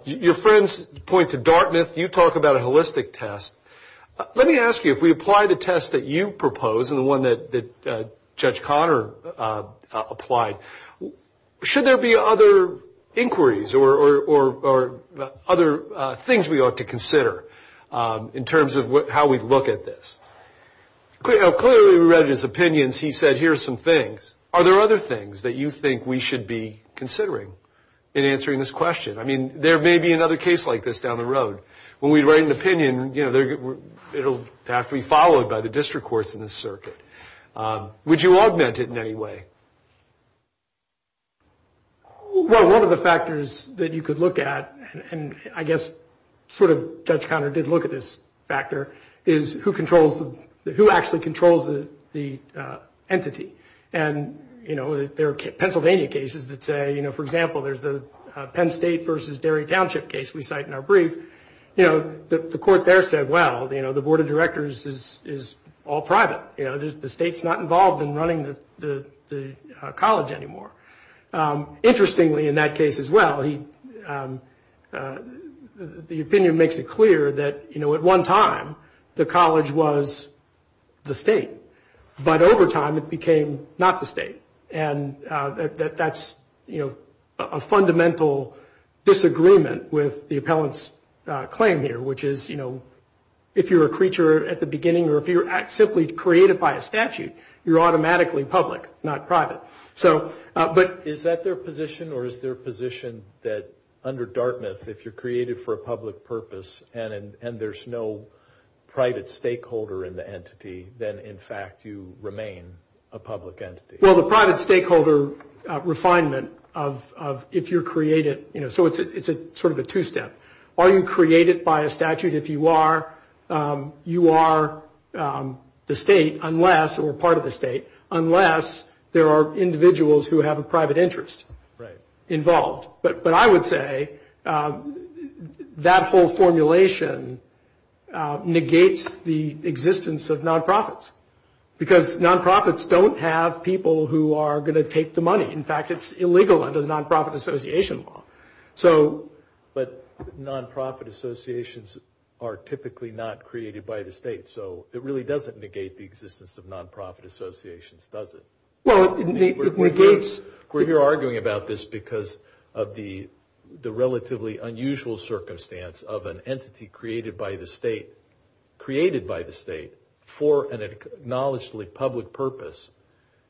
Your friends point to Dartmouth. You talk about a holistic test. Let me ask you, if we apply the test that you propose and the one that Judge Conner applied, should there be other inquiries or other things we ought to consider in terms of how we look at this? Clearly we read his opinions. He said here's some things. Are there other things that you think we should be considering in answering this question? I mean, there may be another case like this down the road. When we write an opinion, you know, it will have to be followed by the district courts in this circuit. Would you augment it in any way? Well, one of the factors that you could look at, and I guess sort of Judge Conner did look at this factor, is who actually controls the entity. And, you know, there are Pennsylvania cases that say, you know, for example, there's the Penn State versus Derry Township case we cite in our brief. You know, the court there said, well, you know, the Board of Directors is all private. You know, the state's not involved in running the college anymore. Interestingly, in that case as well, the opinion makes it clear that, you know, at one time the college was the state, but over time it became not the state. And that's, you know, a fundamental disagreement with the appellant's claim here, which is, you know, if you're a creature at the beginning or if you're simply created by a statute, you're automatically public, not private. Is that their position, or is their position that under Dartmouth, if you're created for a public purpose and there's no private stakeholder in the entity, then in fact you remain a public entity? Well, the private stakeholder refinement of if you're created, you know, so it's sort of a two-step. Are you created by a statute? If you are, you are the state unless, or part of the state, unless there are individuals who have a private interest involved. But I would say that whole formulation negates the existence of nonprofits, because nonprofits don't have people who are going to take the money. In fact, it's illegal under the nonprofit association law. But nonprofit associations are typically not created by the state, so it really doesn't negate the existence of nonprofit associations, does it? Well, it negates... We're here arguing about this because of the relatively unusual circumstance of an entity created by the state for an acknowledgedly public purpose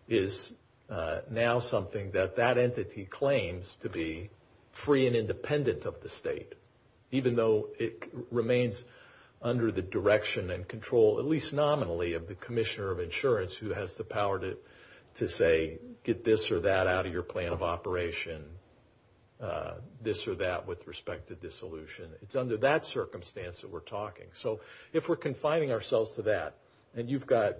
is now something that that entity claims to be free and independent of the state, even though it remains under the direction and control, at least nominally, of the commissioner of insurance who has the power to say, get this or that out of your plan of operation, this or that with respect to dissolution. It's under that circumstance that we're talking. So if we're confining ourselves to that, and you've got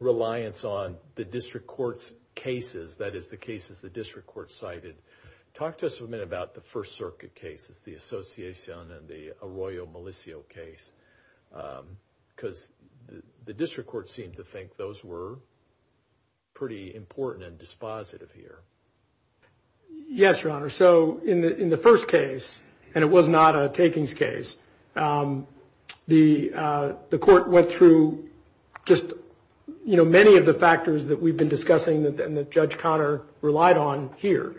reliance on the district court's cases, that is the cases the district court cited, talk to us a minute about the First Circuit cases, the Association and the Arroyo Milicio case, because the district court seemed to think those were pretty important and dispositive here. Yes, Your Honor. So in the first case, and it was not a takings case, the court went through just many of the factors that we've been discussing and that Judge Conner relied on here.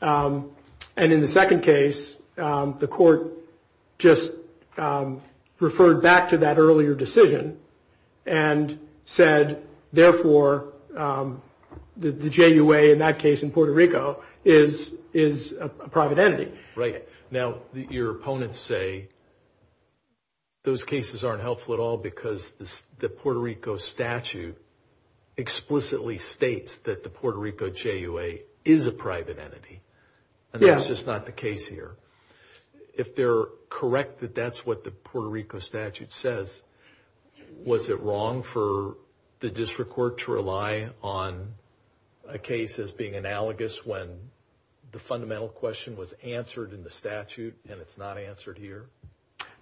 And in the second case, the court just referred back to that earlier decision and said, therefore, the JUA in that case in Puerto Rico is a private entity. Right. Now, your opponents say those cases aren't helpful at all because the Puerto Rico statute explicitly states that the Puerto Rico JUA is a private entity, and that's just not the case here. If they're correct that that's what the Puerto Rico statute says, was it wrong for the district court to rely on a case as being analogous when the fundamental question was answered in the statute and it's not answered here?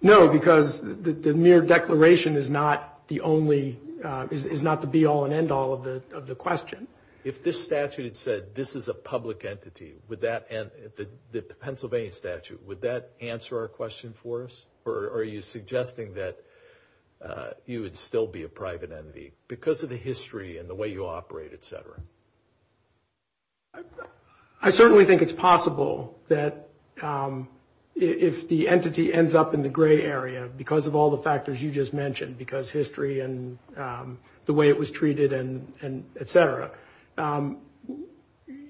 No, because the mere declaration is not the be-all and end-all of the question. If this statute had said this is a public entity, the Pennsylvania statute, would that answer our question for us? Or are you suggesting that you would still be a private entity because of the history and the way you operate, et cetera? I certainly think it's possible that if the entity ends up in the gray area, because of all the factors you just mentioned,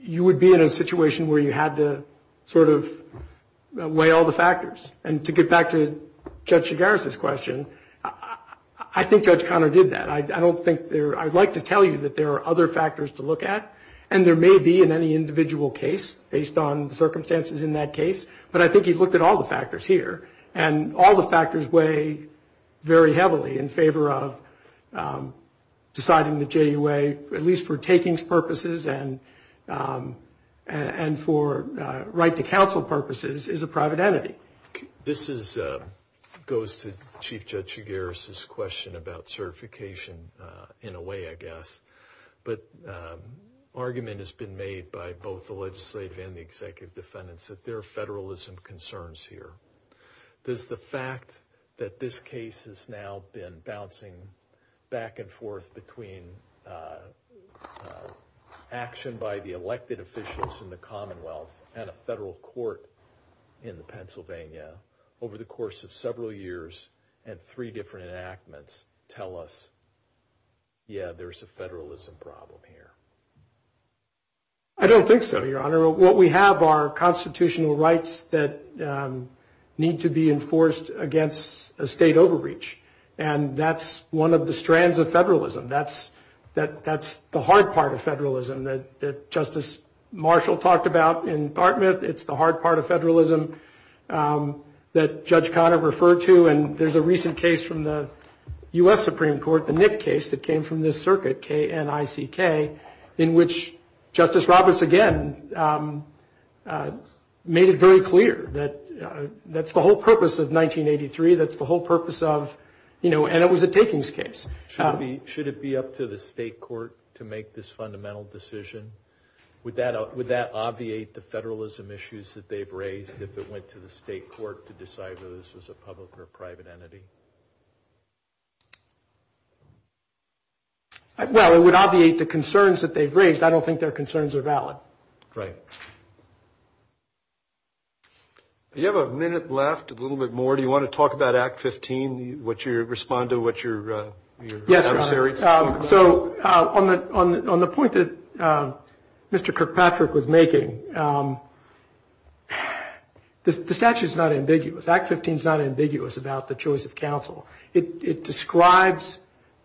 you would be in a situation where you had to sort of weigh all the factors. And to get back to Judge Chigares' question, I think Judge Conner did that. I don't think there – I'd like to tell you that there are other factors to look at, and there may be in any individual case based on the circumstances in that case, but I think he looked at all the factors here, and all the factors weigh very heavily in favor of deciding the JUA, at least for takings purposes and for right-to-counsel purposes, is a private entity. This goes to Chief Judge Chigares' question about certification in a way, I guess. But argument has been made by both the legislative and the executive defendants that there are federalism concerns here. Does the fact that this case has now been bouncing back and forth between action by the elected officials in the Commonwealth and a federal court in Pennsylvania over the course of several years and three different enactments tell us, yeah, there's a federalism problem here? I don't think so, Your Honor. What we have are constitutional rights that need to be enforced against a state overreach, and that's one of the strands of federalism. That's the hard part of federalism that Justice Marshall talked about in Dartmouth. It's the hard part of federalism that Judge Conner referred to, and there's a recent case from the U.S. Supreme Court, the Nick case, that came from this circuit, K-N-I-C-K, in which Justice Roberts, again, made it very clear that that's the whole purpose of 1983, that's the whole purpose of, you know, and it was a takings case. Should it be up to the state court to make this fundamental decision? Would that obviate the federalism issues that they've raised if it went to the state court to decide whether this was a public or private entity? Well, it would obviate the concerns that they've raised. I don't think their concerns are valid. Right. Do you have a minute left, a little bit more? Do you want to talk about Act 15, respond to what you're necessary to talk about? So on the point that Mr. Kirkpatrick was making, the statute is not ambiguous. Act 15 is not ambiguous about the choice of counsel. It describes,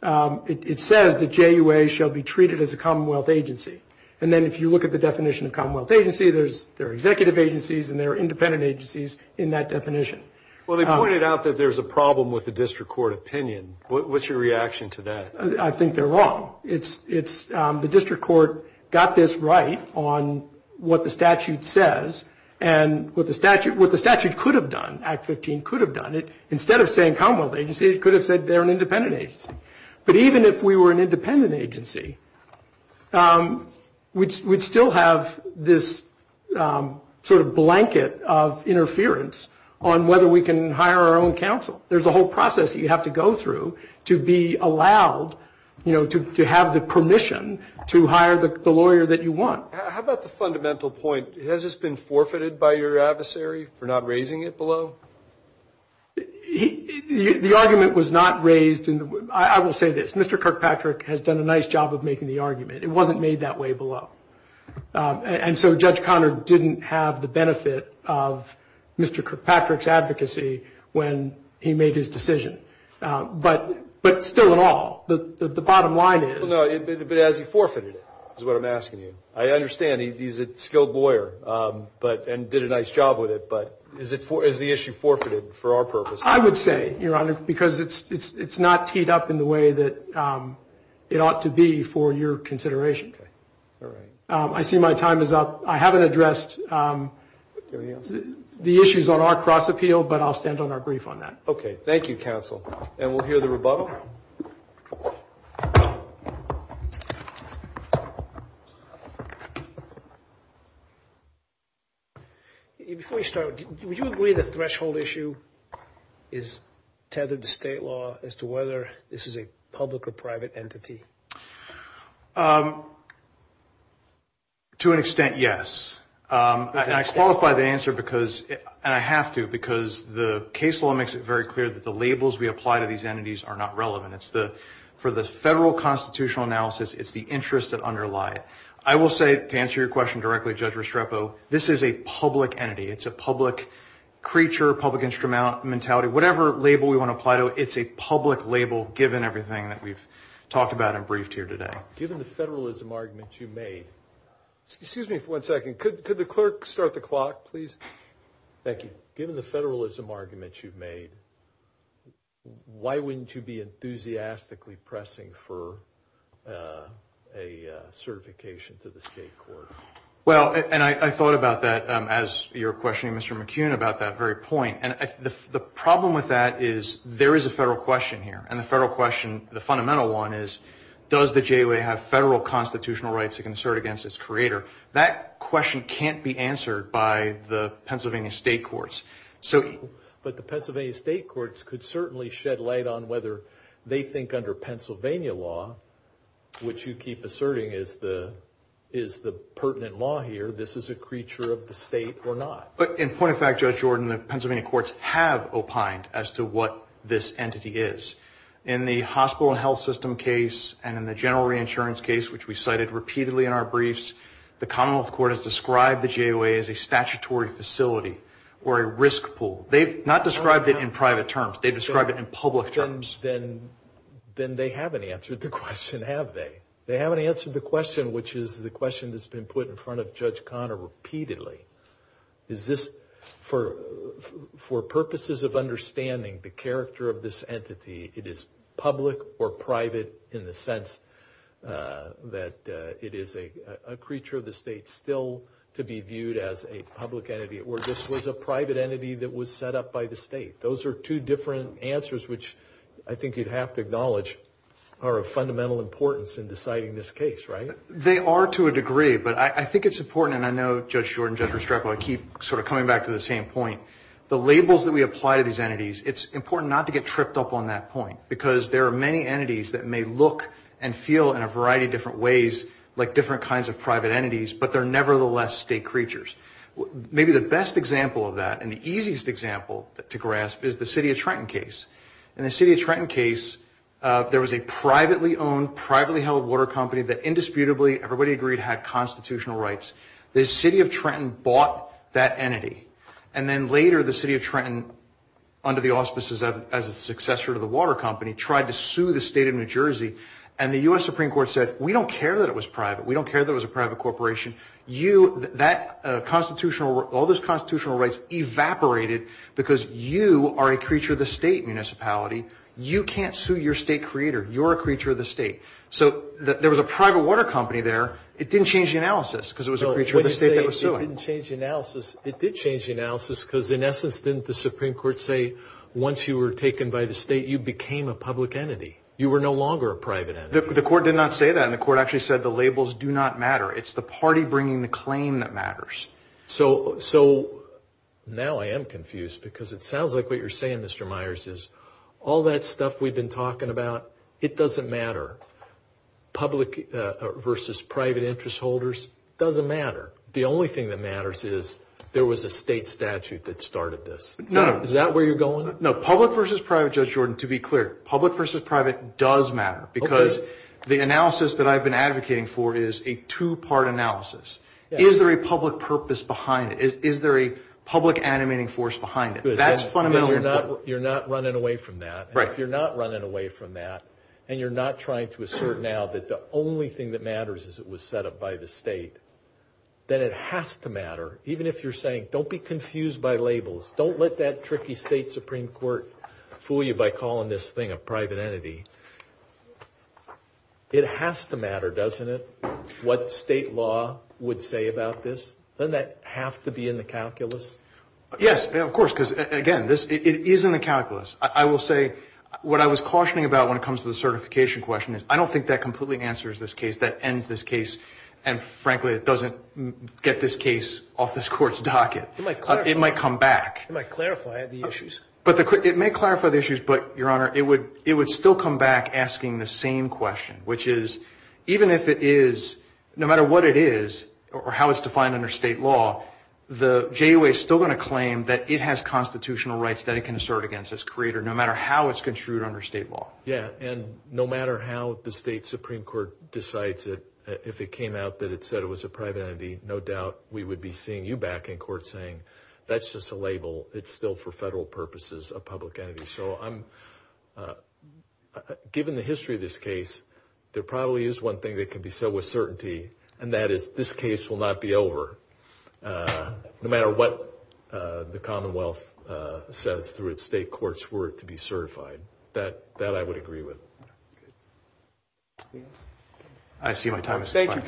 it says that JUA shall be treated as a commonwealth agency, and then if you look at the definition of commonwealth agency, there are executive agencies and there are independent agencies in that definition. Well, they pointed out that there's a problem with the district court opinion. What's your reaction to that? I think they're wrong. The district court got this right on what the statute says and what the statute could have done, Act 15 could have done. Instead of saying commonwealth agency, it could have said they're an independent agency. But even if we were an independent agency, we'd still have this sort of blanket of interference on whether we can hire our own counsel. There's a whole process that you have to go through to be allowed, you know, to have the permission to hire the lawyer that you want. How about the fundamental point? Has this been forfeited by your adversary for not raising it below? The argument was not raised, and I will say this, Mr. Kirkpatrick has done a nice job of making the argument. It wasn't made that way below. And so Judge Conard didn't have the benefit of Mr. Kirkpatrick's advocacy when he made his decision. But still in all, the bottom line is. No, but has he forfeited it is what I'm asking you. I understand he's a skilled lawyer and did a nice job with it, but is the issue forfeited for our purpose? I would say, Your Honor, because it's not teed up in the way that it ought to be for your consideration. All right. I see my time is up. I haven't addressed the issues on our cross appeal, but I'll stand on our brief on that. Okay. Thank you, counsel. And we'll hear the rebuttal. Before you start, would you agree the threshold issue is tethered to state law as to whether this is a public or private entity? To an extent, yes. I qualify the answer because, and I have to, because the case law makes it very clear that the labels we apply to these entities are not relevant. For the federal constitutional analysis, it's the interests that underlie it. I will say, to answer your question directly, Judge Restrepo, this is a public entity. It's a public creature, public instrumentality. Whatever label we want to apply to, it's a public label, given everything that we've talked about and briefed here today. Given the federalism arguments you've made, why wouldn't you be enthusiastically pressing for a certification to the state court? Well, and I thought about that as you were questioning Mr. McKeon about that very point. And the problem with that is there is a federal question here. And the federal question, the fundamental one, is does the JUA have federal constitutional rights it can assert against its creator? That question can't be answered by the Pennsylvania state courts. But the Pennsylvania state courts could certainly shed light on whether they think under Pennsylvania law, which you keep asserting is the pertinent law here, this is a creature of the state or not. In point of fact, Judge Jordan, the Pennsylvania courts have opined as to what this entity is. In the hospital and health system case and in the general reinsurance case, which we cited repeatedly in our briefs, the Commonwealth Court has described the JUA as a statutory facility or a risk pool. They've not described it in private terms. They've described it in public terms. Then they haven't answered the question, have they? They haven't answered the question, which is the question that's been put in front of Judge Conner repeatedly. Is this, for purposes of understanding the character of this entity, it is public or private in the sense that it is a creature of the state still to be viewed as a public entity or just was a private entity that was set up by the state? Those are two different answers which I think you'd have to acknowledge are of fundamental importance in deciding this case, right? They are to a degree, but I think it's important, and I know Judge Jordan, Judge Restrepo, I keep sort of coming back to the same point. The labels that we apply to these entities, it's important not to get tripped up on that point because there are many entities that may look and feel in a variety of different ways like different kinds of private entities, but they're nevertheless state creatures. Maybe the best example of that and the easiest example to grasp is the city of Trenton case. In the city of Trenton case, there was a privately owned, privately held water company that indisputably, everybody agreed, had constitutional rights. The city of Trenton bought that entity, and then later the city of Trenton, under the auspices of as a successor to the water company, tried to sue the state of New Jersey, and the U.S. Supreme Court said, we don't care that it was private. We don't care that it was a private corporation. You, that constitutional, all those constitutional rights evaporated because you are a creature of the state municipality. You can't sue your state creator. You're a creature of the state. So there was a private water company there. It didn't change the analysis because it was a creature of the state that was suing. It didn't change the analysis. It did change the analysis because in essence, didn't the Supreme Court say, once you were taken by the state, you became a public entity? You were no longer a private entity. The court did not say that, and the court actually said the labels do not matter. It's the party bringing the claim that matters. So now I am confused because it sounds like what you're saying, Mr. Myers, is all that stuff we've been talking about, it doesn't matter. Public versus private interest holders, doesn't matter. The only thing that matters is there was a state statute that started this. Is that where you're going? No, public versus private, Judge Jordan, to be clear, public versus private does matter because the analysis that I've been advocating for is a two-part analysis. Is there a public purpose behind it? Is there a public animating force behind it? That's fundamentally important. You're not running away from that. Right. If you're not running away from that, and you're not trying to assert now that the only thing that matters is it was set up by the state, then it has to matter, even if you're saying, don't be confused by labels. Don't let that tricky state Supreme Court fool you by calling this thing a private entity. It has to matter, doesn't it, what state law would say about this? Doesn't that have to be in the calculus? Yes, of course, because, again, it is in the calculus. I will say what I was cautioning about when it comes to the certification question is I don't think that completely answers this case, that ends this case, and, frankly, it doesn't get this case off this court's docket. It might come back. It might clarify the issues. It may clarify the issues, but, Your Honor, it would still come back asking the same question, which is even if it is, no matter what it is or how it's defined under state law, the JOA is still going to claim that it has constitutional rights that it can assert against its creator, no matter how it's construed under state law. Yes, and no matter how the state Supreme Court decides it, if it came out that it said it was a private entity, no doubt we would be seeing you back in court saying that's just a label. It's still, for federal purposes, a public entity. So, given the history of this case, there probably is one thing that can be said with certainty, and that is this case will not be over, no matter what the Commonwealth says through its state courts for it to be certified. That I would agree with. I see my time has expired. Thank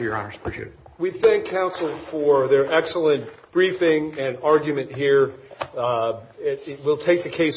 you, counsel. We thank counsel for their excellent briefing and argument here. We'll take the case under review.